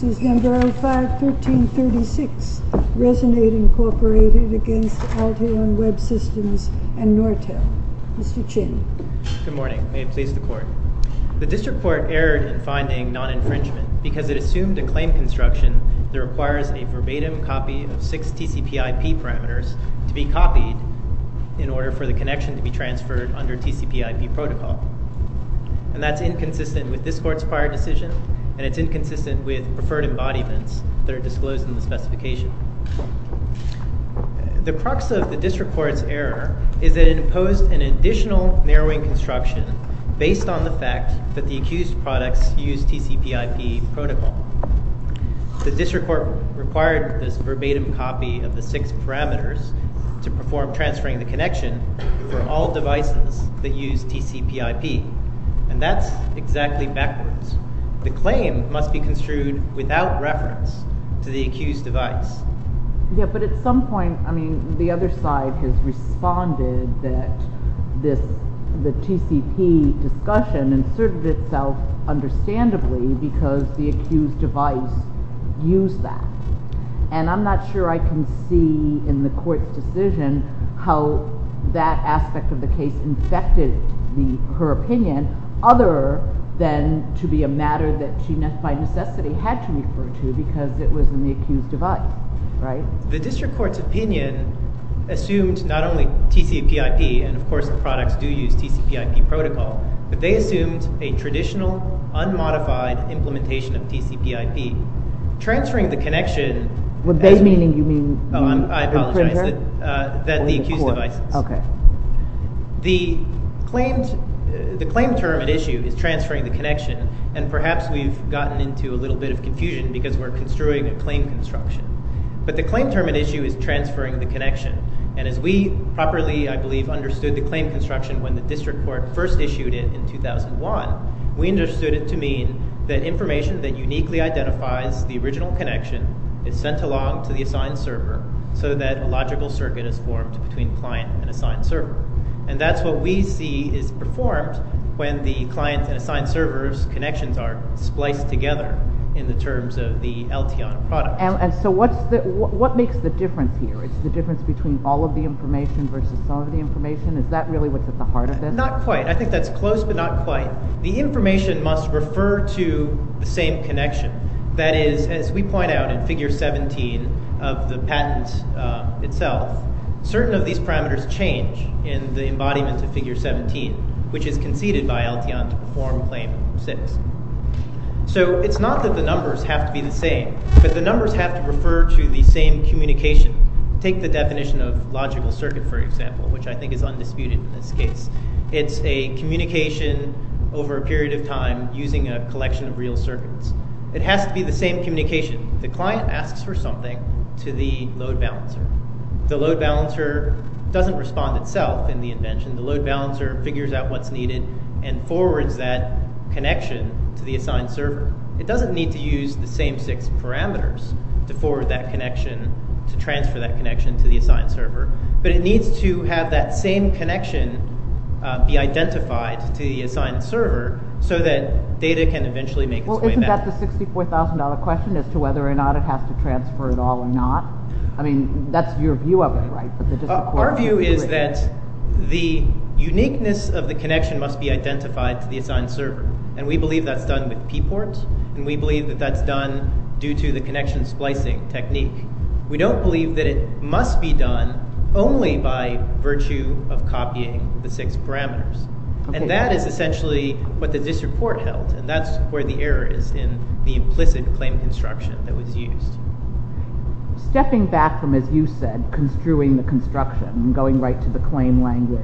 Senate Inc v. AT&T Resonate Incorporated v. Altair & Webb Systems v. Nortel The crux of the district court's error is that it imposed an additional narrowing construction based on the fact that the accused products use TCPIP protocol. The district court required this verbatim copy of the six parameters to perform transferring the connection for all devices that use TCPIP and that's exactly backwards. The claim must be construed without reference to the Yeah but at some point I mean the other side has responded that this the TCP discussion inserted itself understandably because the accused device used that and I'm not sure I can see in the court's decision how that aspect of the case infected the her opinion other than to be a matter that she by necessity had to refer to because it was in the accused device, right? The district court's opinion assumed not only TCPIP and of course the products do use TCPIP protocol but they assumed a traditional unmodified implementation of TCPIP transferring the connection. What they meaning you mean? I apologize that the accused device. Okay. The claimed the claim term at issue is transferring the connection and perhaps we've gotten into a little bit of confusion because we're construing a claim construction but the claim term at issue is transferring the connection and as we properly I believe understood the claim construction when the district court first issued it in 2001 we understood it to mean that information that uniquely identifies the original connection is sent along to the assigned server so that a logical circuit is formed between client and assigned server and that's what we see is performed when the client and assigned servers connections are spliced together in the terms of the LTON product. And so what's the what makes the difference here is the difference between all of the information versus some of the information is that really what's at the heart of it? Not quite I think that's close but not quite. The information must refer to the same connection that is as we point out in figure 17 of the patent itself certain of these parameters change in the embodiment of figure 17 which is conceded by LTON to perform claim 6. So it's not that the numbers have to be the same but the numbers have to refer to the same communication take the definition of logical circuit for example which I think is undisputed in this case it's a communication over a period of time using a collection of real circuits it has to be the same communication the client asks for something to the load balancer the load balancer doesn't respond itself in the invention the load balancer figures out what's needed and forwards that connection to the assigned server it doesn't need to use the same six parameters to forward that connection to transfer that connection to the assigned server but it needs to have that same connection be identified to the assigned server so that data can eventually make its way back. Well isn't that the $64,000 question as to whether or not it has to transfer at all or not I mean that's your view of it right? Our view is that the uniqueness of the connection must be identified to the assigned server and we believe that's done with pport and we believe that that's done due to the connection splicing technique we don't believe that it must be done only by virtue of copying the six parameters and that is essentially what the disreport held and that's where the error is in the implicit claim construction that was used. Stepping back from as you said construing the construction going right to the claim language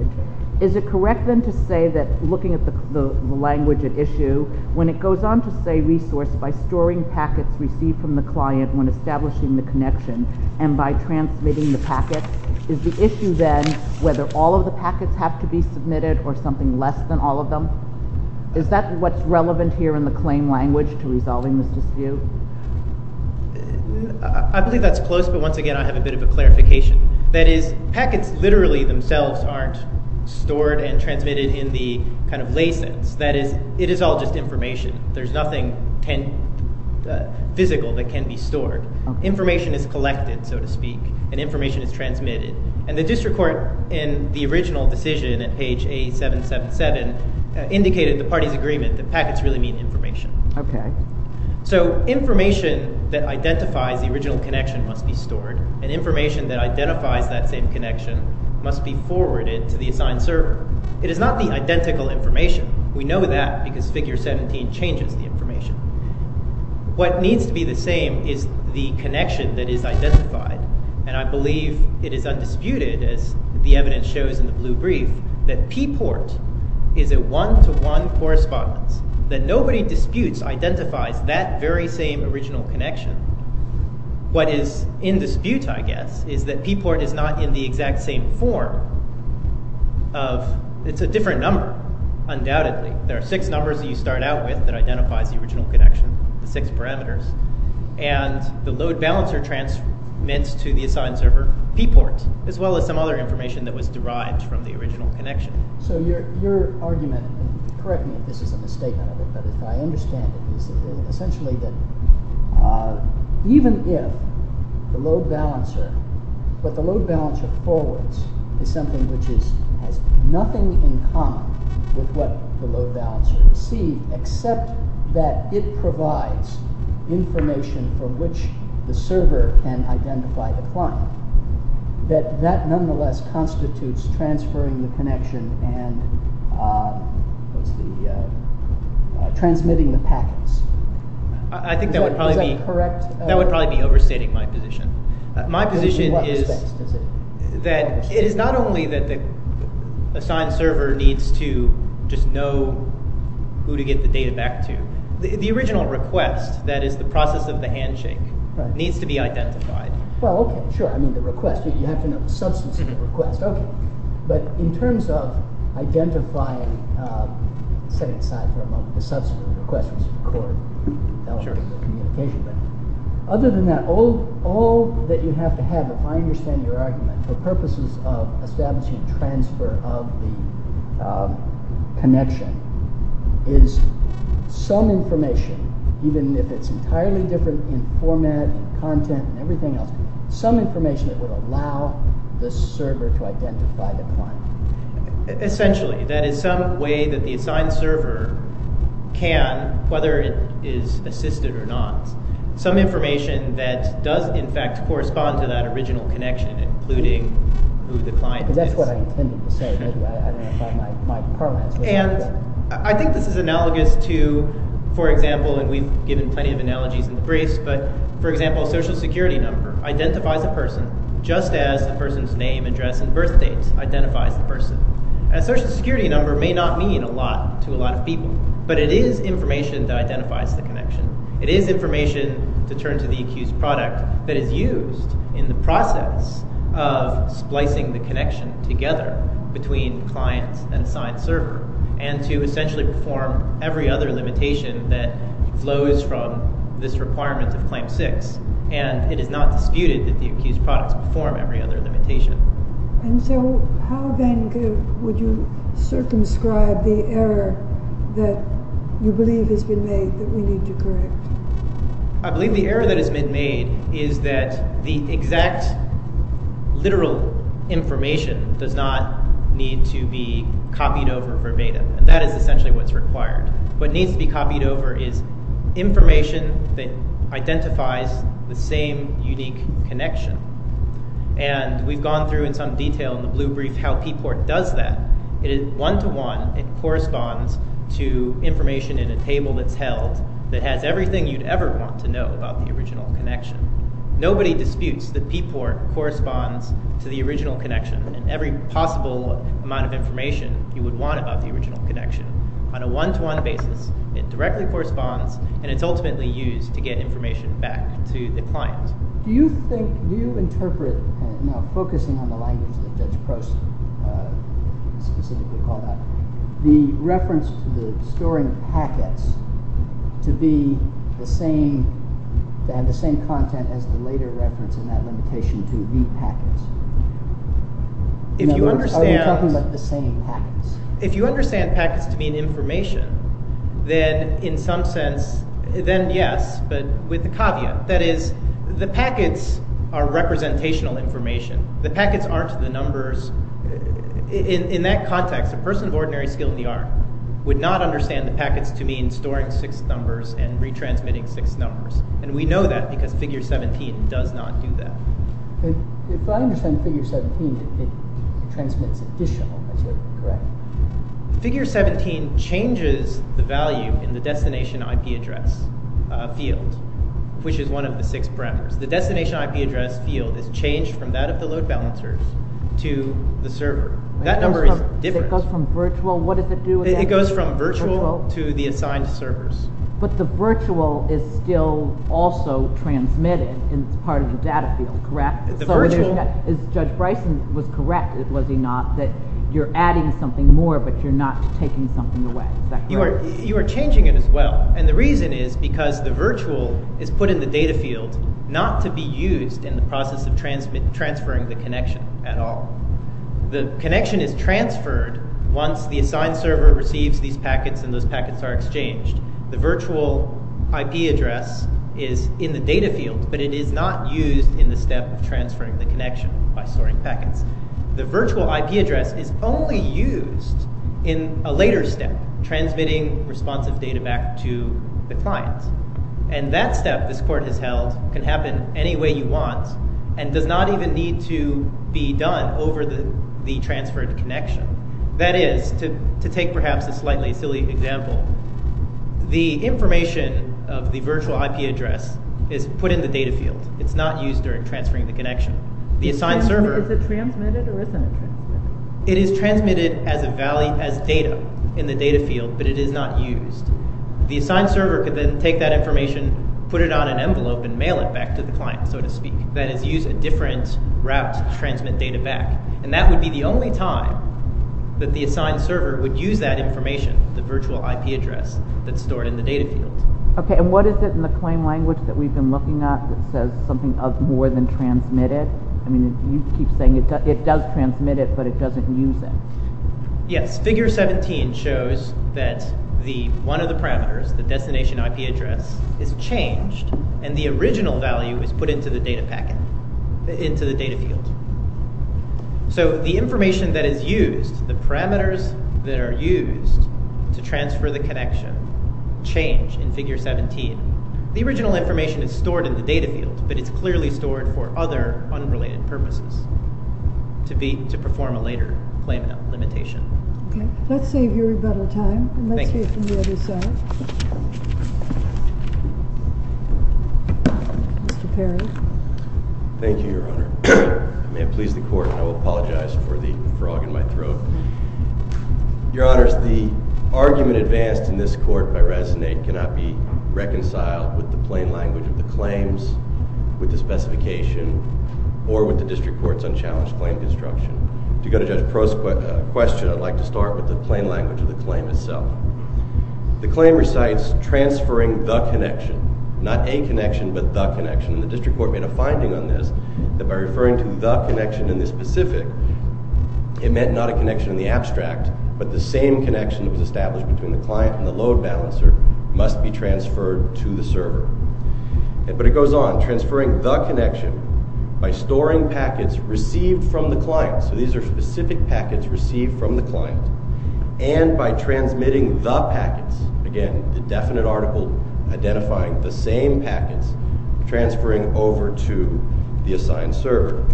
is it correct then to say that looking at the language at issue when it goes on to say resource by storing packets received from the client when establishing the connection and by transmitting the packet is the issue then whether all of the packets have to be submitted or something less than all of them is that what's relevant here in the claim language to resolving this dispute? I believe that's close but once again I have a bit of a clarification that is packets literally themselves aren't stored and transmitted in the kind of license that is it is all just information there's nothing physical that can be stored information is collected so to speak and information is transmitted and the district court in the original decision at page a777 indicated the party's agreement that packets really mean information. Okay. So information that identifies the original connection must be stored and information that identifies that same connection must be forwarded to the assigned server it is the identical information we know that because figure 17 changes the information. What needs to be the same is the connection that is identified and I believe it is undisputed as the evidence shows in the blue brief that P port is a one-to-one correspondence that nobody disputes identifies that very same original connection. What is in dispute I guess is that P port is not in the exact same form of it's a different number undoubtedly there are six numbers that you start out with that identifies the original connection the six parameters and the load balancer transmits to the assigned server P port as well as some other information that was derived from the original connection. So your argument and correct me if this is a misstatement of it but if I understand essentially that even if the load balancer but the load balancer forwards is something which is has nothing in common with what the load balancer received except that it provides information for which the server can identify the client that that nonetheless constitutes transferring the packets. I think that would probably be correct that would probably be overstating my position my position is that it is not only that the assigned server needs to just know who to get the data back to the original request that is the process of the handshake needs to be identified. Well okay sure I mean the request you have to know the substance of the request okay but in terms of identifying setting aside for a moment the substance of the request was other than that all that you have to have if I understand your argument for purposes of establishing transfer of the connection is some information even if it's entirely different in the server to identify the client. Essentially that is some way that the assigned server can whether it is assisted or not some information that does in fact correspond to that original connection including who the client is. That's what I intended to say and I think this is analogous to for example and we've given plenty of analogies in the briefs but for example a social security number identifies a person just as the person's name address and birth date identifies the person. A social security number may not mean a lot to a lot of people but it is information that identifies the connection it is information to turn to the accused product that is used in the process of splicing the connection together between clients and assigned server and to essentially perform every other limitation that flows from this requirement of and it is not disputed that the accused products perform every other limitation. And so how then would you circumscribe the error that you believe has been made that we need to correct? I believe the error that has been made is that the exact literal information does not need to be copied over verbatim and that is essentially what's required. What needs to be the same unique connection and we've gone through in some detail in the blue brief how P-Port does that it is one-to-one it corresponds to information in a table that's held that has everything you'd ever want to know about the original connection. Nobody disputes that P-Port corresponds to the original connection and every possible amount of information you would want about the original connection on a one-to-one basis it directly corresponds and it's ultimately used to get information back to the client. Do you think do you interpret now focusing on the language that Judge Prost specifically called out the reference to the storing packets to be the same to have the same content as the later reference in that limitation to the packets? If you understand... Are you talking about the same packets? If you understand packets to be information then in some sense then yes but with the caveat that is the packets are representational information. The packets aren't the numbers. In that context a person of ordinary skill in the art would not understand the packets to mean storing six numbers and retransmitting six numbers and we know that because figure 17 does not do that. If I understand figure 17 it transmits additional, is that correct? Figure 17 changes the value in the destination IP address field which is one of the six parameters. The destination IP address field is changed from that of the load balancers to the server. That number is different. It goes from virtual? What does it do? It goes from virtual to the assigned servers. But the virtual is still also transmitted as part of the data field, correct? Judge Bryson was correct, was he not, that you're adding something more but you're not taking something away. You are changing it as well and the reason is because the virtual is put in the data field not to be used in the process of transferring the connection at all. The connection is transferred once the assigned server receives these packets and those packets are exchanged. The virtual IP address is in the data field but it is not used in the step of transferring the connection by storing packets. The virtual IP address is only used in a later step transmitting responsive data back to the client and that step this court has held can happen any way you want and does not even need to be done over the transferred connection. That is, to take perhaps a slightly silly example, the information of the virtual IP address is put in the data field. It's not used during transferring the connection. Is it transmitted or isn't it? It is transmitted as data in the data field but it is not used. The assigned server could then take that information put it on an envelope and mail it back to the client so to time that the assigned server would use that information the virtual IP address that's stored in the data field. Okay and what is it in the claim language that we've been looking at that says something of more than transmitted? I mean you keep saying it does transmit it but it doesn't use it. Yes, figure 17 shows that the one of the parameters the destination IP address is changed and the original value is put into the data packet into the data field. So the information that is used, the parameters that are used to transfer the connection change in figure 17. The original information is stored in the data field but it's clearly stored for other unrelated purposes to be to perform a later claim limitation. Okay let's save your better time. Let's hear from the other side. Mr. Perry. Thank you your honor. I may have pleased the court. I will apologize for the frog in my throat. Your honors the argument advanced in this court by Resnate cannot be reconciled with the plain language of the claims with the specification or with the district court's unchallenged claim construction. To go to question I'd like to start with the plain language of the claim itself. The claim recites transferring the connection not a connection but the connection. The district court made a finding on this that by referring to the connection in this specific it meant not a connection in the abstract but the same connection that was established between the client and the load balancer must be transferred to the server. But it goes on transferring the connection by packets received from the client and by transmitting the packets again the definite article identifying the same packets transferring over to the assigned server.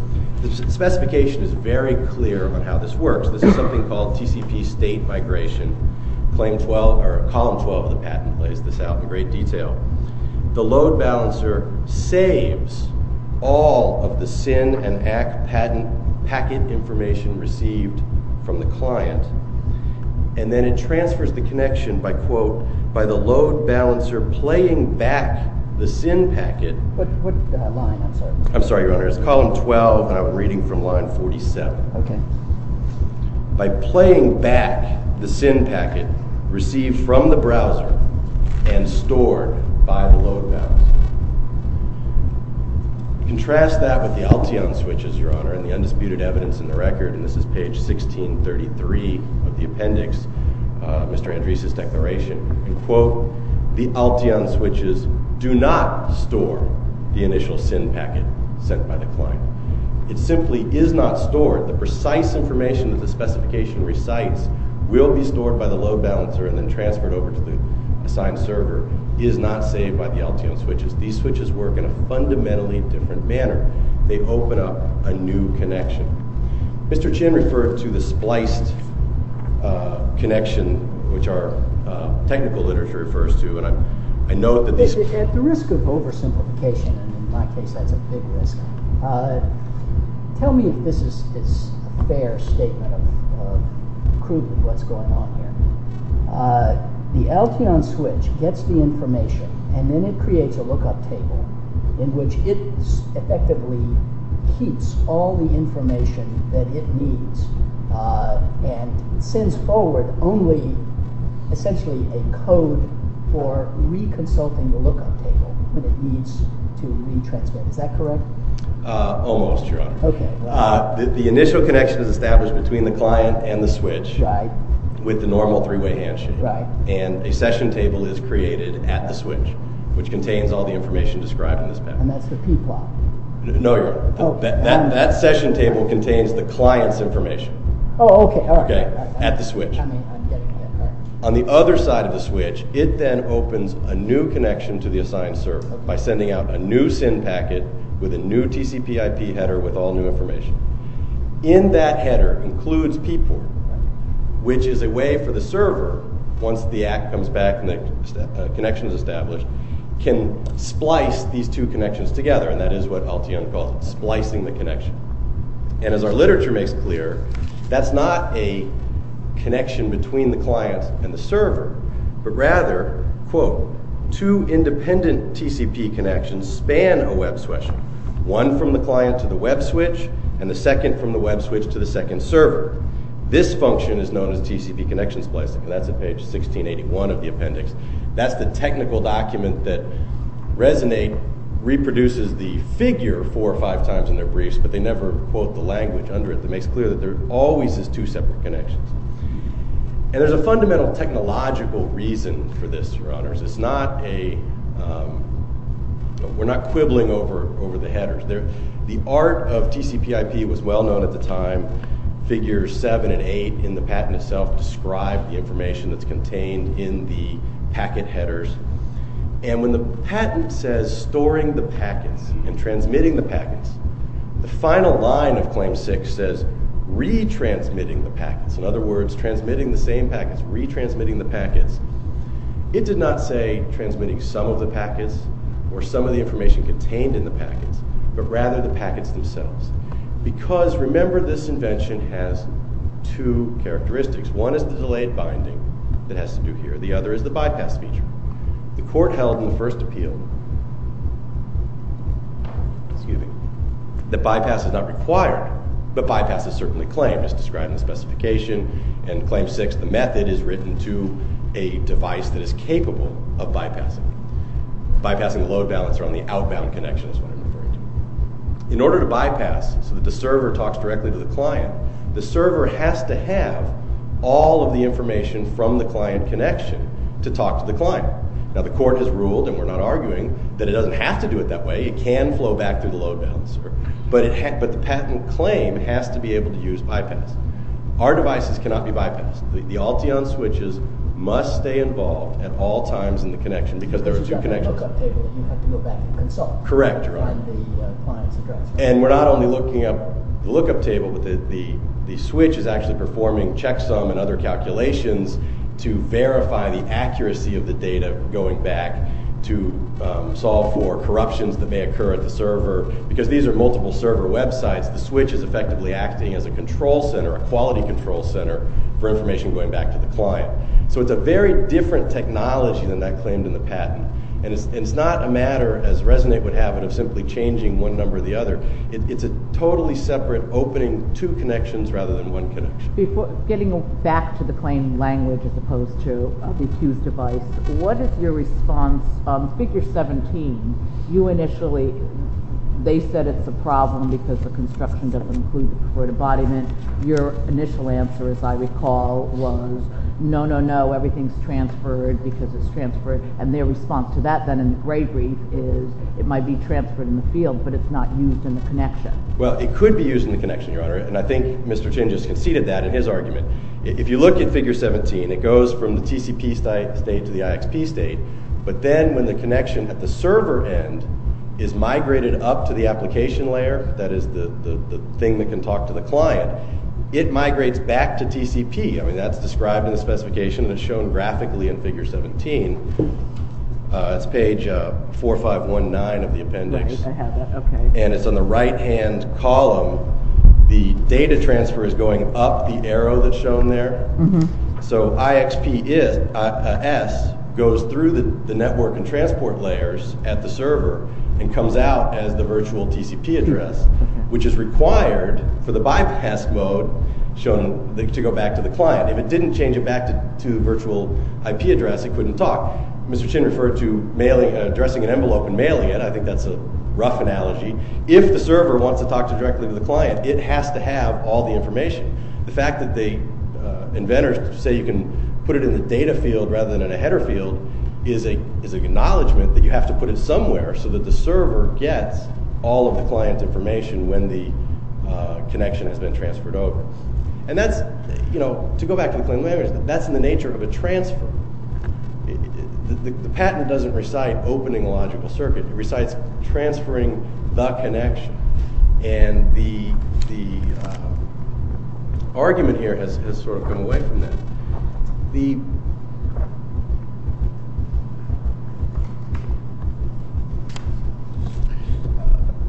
The specification is very clear on how this works. This is something called TCP state migration. Claim 12 or column 12 of the patent plays this out in great detail. The load balancer saves all of the SIN and ACK packet information received from the client and then it transfers the connection by quote by the load balancer playing back the SIN packet. What line? I'm sorry your honor it's column 12 and I'm reading from line 47. Okay. By playing back the SIN packet received from the browser and stored by the load balancer. Contrast that with the Alteon switches your honor and the undisputed evidence in the record and this is page 1633 of the appendix Mr. Andres's declaration and quote the Alteon switches do not store the initial SIN packet sent by the client. It simply is not stored the precise information that the specification recites will be stored by the load balancer and then transferred over to the assigned server is not saved by the Alteon switches. These switches work in a fundamentally different manner. They open up a new connection. Mr. Chin referred to the spliced connection which our technical literature refers to and I note that this at the risk of oversimplification and in my case that's a big risk. Tell me if this is a fair statement of proof of what's going on here. The Alteon switch gets the information and then it creates a lookup table in which it effectively keeps all the information that it needs and sends forward only essentially a code for reconsulting the lookup table when it needs to retransmit. Is that correct? Almost sure. The initial connection is established between the client and the switch with the normal three-way handshake and a session table is created at the switch which contains all the information described in this package. And that's the p-plot? No, that session table contains the client's information at the switch. On the other side of the switch it then opens a new connection to the assigned server by sending out a new SIN packet with a new TCP IP header with all new information. In that header includes p-port which is a way for the server once the act comes back and the connection is established can splice these two connections together and that is what Alteon calls splicing the connection. And as our literature makes clear that's not a connection between the client and the server but rather, quote, two independent TCP connections span a web switch. One from the client to the web switch and the second from the web switch to the second server. This function is known as TCP connection splicing and that's at page 1681 of the appendix. That's the technical document that Resonate reproduces the figure four or five times in their briefs but they never quote the language under it that makes clear that there always is two separate connections. And there's a fundamental technological reason for this your honors. It's not a we're not quibbling over the headers. The art of TCP IP was well known at the time. Figures seven and eight in the patent itself describe the information that's contained in the packet headers and when the patent says storing the packets and transmitting the packets the final line of claim six says retransmitting the packets. In other words, transmitting the same packets, retransmitting the packets. It did not say transmitting some of the packets or some of the information contained in the packets but rather the packets themselves because remember this invention has two characteristics. One is the delayed binding that has to do here. The other is the bypass feature. The court held in the first appeal excuse me, the bypass is not required but bypass is certainly claimed as described in the specification and claim six the method is written to a device that is capable of bypassing. Bypassing the load balancer on the outbound connection is what I'm referring to. In order to bypass so that the server talks directly to the client the server has to have all of the information from the client connection to talk to the client. Now the court has ruled and we're not arguing that it doesn't have to do it that way. It can flow back through the load balancer but the patent claim has to be able to use bypass. Our devices cannot be bypassed. The Alteon switches must stay involved at all times in the connection because there are two connections. Correct and we're not only looking up the lookup table but the switch is actually performing checksum and other calculations to verify the accuracy of the data going back to solve for corruptions that may occur at the server. Because these are multiple server websites the switch is effectively acting as a control center, a quality control center for information going back to the client. So it's a very different technology than that claimed in the patent and it's not a matter as Resonate would have it of simply changing one number the other. It's a totally separate opening two connections rather than one connection. Before getting back to the claim language as opposed to the accused device, what is your response on figure 17? You initially they said it's a problem because the construction doesn't include the court embodiment. Your initial answer as I recall was no no no everything's transferred because it's transferred and their response to that then in the grade brief is it might be transferred in the field but it's not used in the connection. Well it could be used in the connection your honor and I think Mr. Chin just conceded that in his argument. If you look at figure 17 it goes from the TCP state to the IXP state but then when the connection at the server end is migrated up to the application layer that is the the thing that can talk to the client it migrates back to TCP. I mean that's described in the specification and it's shown graphically in figure 17. That's page 4519 of the appendix and it's on the right hand column the data transfer is going up the arrow that's shown there so IXP is s goes through the network and transport layers at the server and comes out as the virtual TCP address which is required for the bypass mode shown to go back to the client. If it didn't change it back to the virtual IP address it couldn't talk. Mr. Chin referred to addressing an envelope and mailing it. I think that's a rough analogy. If the server wants to talk to directly to the client it has to have all the information. The fact that the inventors say you can put it in the data field rather than in a header field is a is an acknowledgment that you have to put it somewhere so that the server gets all of the client information when the connection has been transferred over and that's you know to go back to the claimant that's in of a transfer. The patent doesn't recite opening a logical circuit it recites transferring the connection and the argument here has sort of come away from that.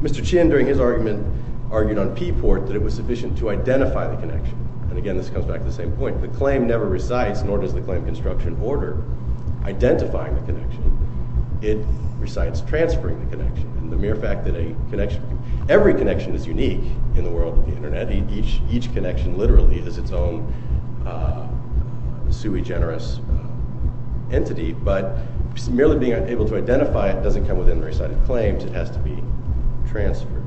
Mr. Chin during his argument argued on P-Port that it was sufficient to identify the connection and again this comes back to the same point. The claim never recites nor does the claim construction order identifying the connection. It recites transferring the connection and the mere fact that a connection every connection is unique in the world of the internet. Each connection literally is its own sui generis entity but merely being able to identify it doesn't come within the recited claim. It has to be transferred.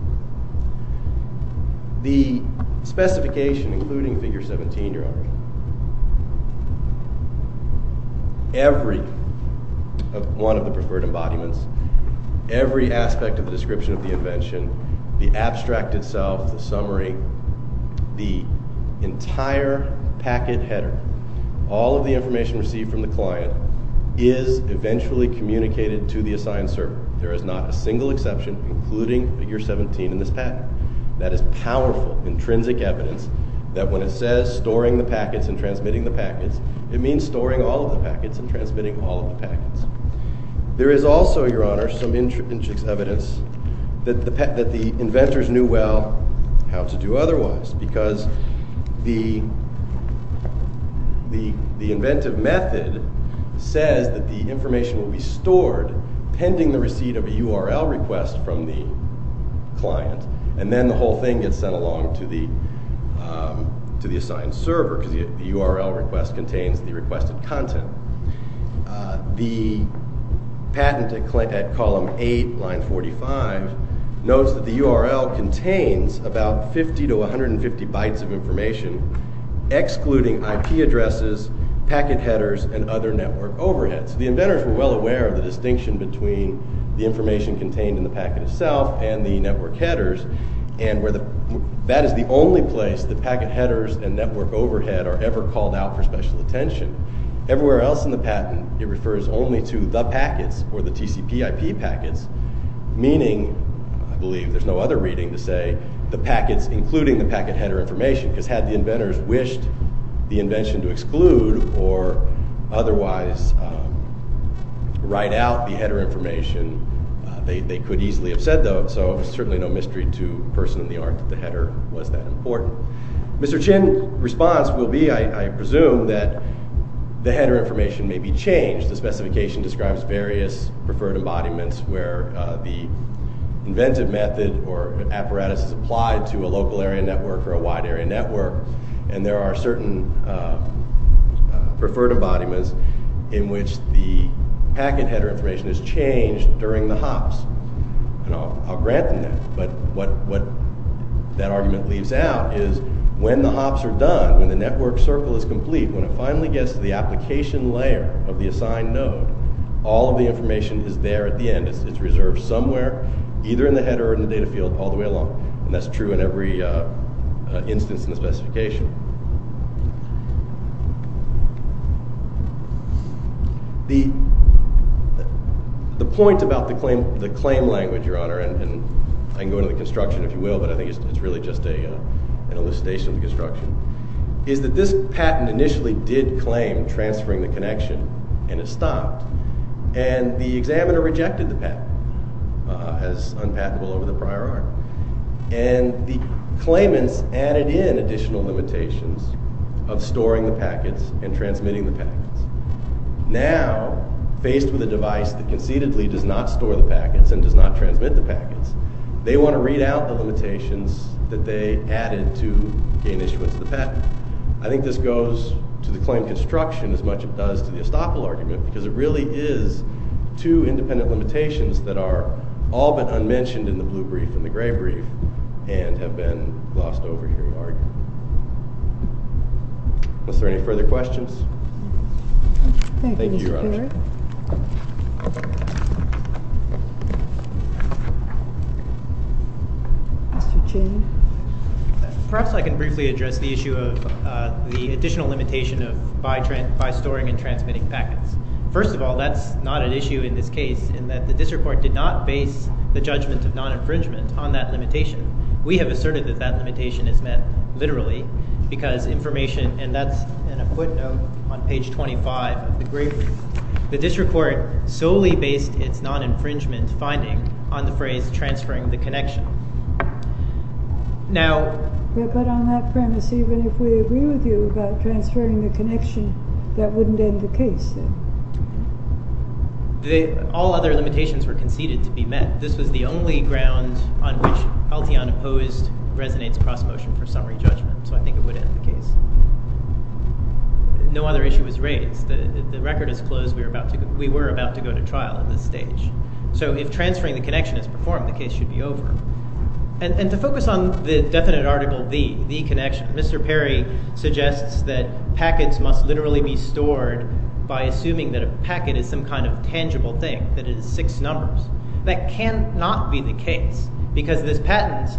The specification including figure 17 you're every one of the preferred embodiments every aspect of the description of the invention the abstract itself the summary the entire packet header all of the information received from the client is eventually communicated to the assigned server. There is not a single exception including figure 17 in this patent. That is powerful intrinsic evidence that when it says storing the packets and transmitting the packets it means storing all of the packets and transmitting all of the packets. There is also your honor some intrinsic evidence that the inventors knew well how to do otherwise because the the inventive method says that the information will be stored pending the receipt of a url request from the client and then the whole thing gets sent along to the assigned server because the url request contains the requested content. The patent at column 8 line 45 notes that the url contains about 50 to 150 bytes of information excluding ip addresses packet headers and other network overheads. The inventors were well aware of the distinction between the information contained in the packet itself and the network headers and where the that is the only place the packet headers and network overhead are ever called out for special attention. Everywhere else in the patent it refers only to the packets or the tcp ip packets meaning I believe there's no other reading to say the packets including the packet header information because had the inventors wished the invention to exclude or otherwise write out the header information they could easily have said though so certainly no mystery to that the header information may be changed the specification describes various preferred embodiments where the inventive method or apparatus is applied to a local area network or a wide area network and there are certain preferred embodiments in which the packet header information is changed during the hops and I'll grant them that but what what that argument leaves out is when the hops are done when the network circle is complete when it finally gets to the application layer of the assigned node all of the information is there at the end it's reserved somewhere either in the header or in the data field all the way along and that's true in every instance in the specification. The the point about the claim the claim language your honor and I can go into the construction if you will but I think it's really just a an elucidation of the construction is that this patent initially did claim transferring the connection and it stopped and the examiner rejected the patent as unpatentable over the prior art and the claimants added in additional limitations of storing the packets and transmitting the packets now faced with a device that concededly does not store the packets and does not transmit the they want to read out the limitations that they added to gain issuance of the patent I think this goes to the claim construction as much it does to the estoppel argument because it really is two independent limitations that are all but unmentioned in the blue brief and the gray brief and have been glossed over here we argue was there any further questions thank you Mr. Cheney perhaps I can briefly address the issue of the additional limitation of by trend by storing and transmitting packets first of all that's not an issue in this case in that district court did not base the judgment of non-infringement on that limitation we have asserted that that limitation is met literally because information and that's in a footnote on page 25 of the great the district court solely based its non-infringement finding on the phrase transferring the connection now but on that premise even if we agree with you transferring the connection that wouldn't end the case all other limitations were conceded to be met this was the only ground on which Alteon opposed resonates cross motion for summary judgment so I think it would end the case no other issue was raised the record is closed we were about to go to trial at this stage so if transferring the connection is performed the case should be over and to focus on the definite article v the connection Mr. Perry suggests that packets must literally be stored by assuming that a packet is some kind of tangible thing that is six numbers that cannot be the case because this patent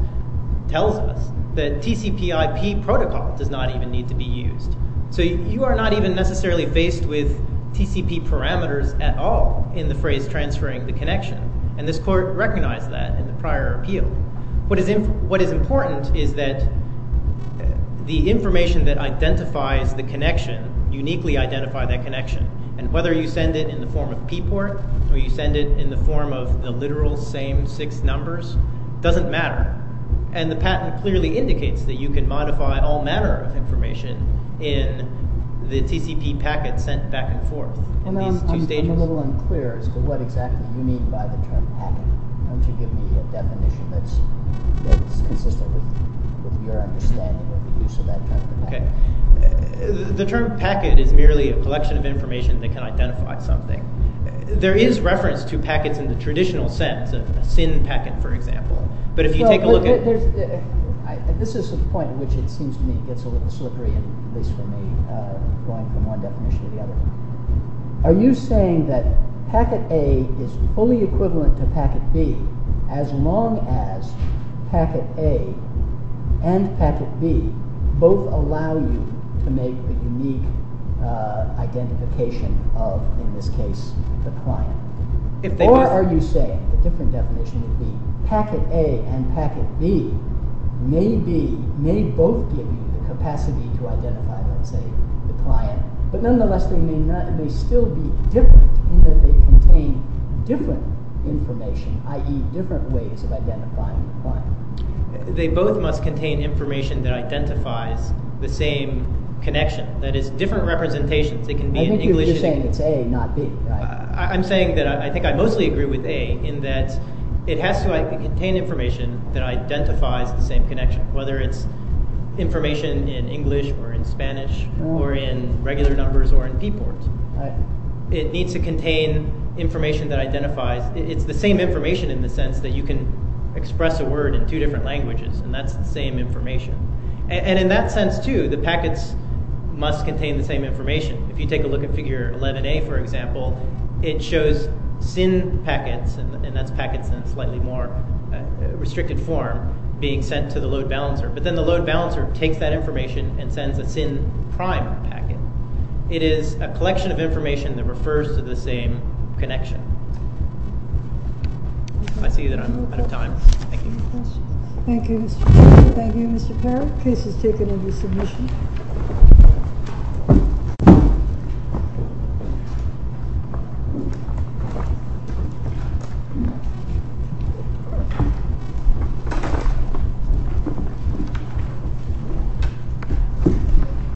tells us that tcp ip protocol does not even need to be used so you are not even necessarily faced with tcp parameters at all in the phrase transferring the connection and this court recognized that in the prior appeal what is in what is important is that the information that identifies the connection uniquely identify that connection and whether you send it in the form of p port or you send it in the form of the literal same six numbers doesn't matter and the patent clearly indicates that you can modify all manner of information in the tcp packet sent back and forth in these two stages a little unclear as to what exactly you mean by the term packet don't you give me a definition that's that's consistent with your understanding of the use of that kind of thing okay the term packet is merely a collection of information that can identify something there is reference to packets in the traditional sense of a sin packet for example but if you take a look at this is the point which it seems to me it gets a little slippery at least for me going from one definition to the other are you saying that packet a is fully equivalent to packet b as long as packet a and packet b both allow you to make a unique identification of in this case the client if they are are you saying a different definition of the packet a and packet b maybe may both give you the capacity to identify let's say the client but nonetheless they may not they still be different in that they contain different information i.e. different ways of identifying the client they both must contain information that identifies the same connection that is different representations it can be an English saying it's a not b right i'm saying that i think i mostly agree with a in that it has to contain information that identifies the same connection whether it's information in English or in Spanish or in regular numbers or in p port right it needs to contain information that identifies it's the same information in the sense that you can express a word in two different languages and that's the same information and in that sense too the packets must contain the same information if you take a figure 11a for example it shows sin packets and that's packets in a slightly more restricted form being sent to the load balancer but then the load balancer takes that information and sends a sin prime packet it is a collection of information that refers to the same connection i see that out of time thank you thank you thank you mr parrot case is taken in the submission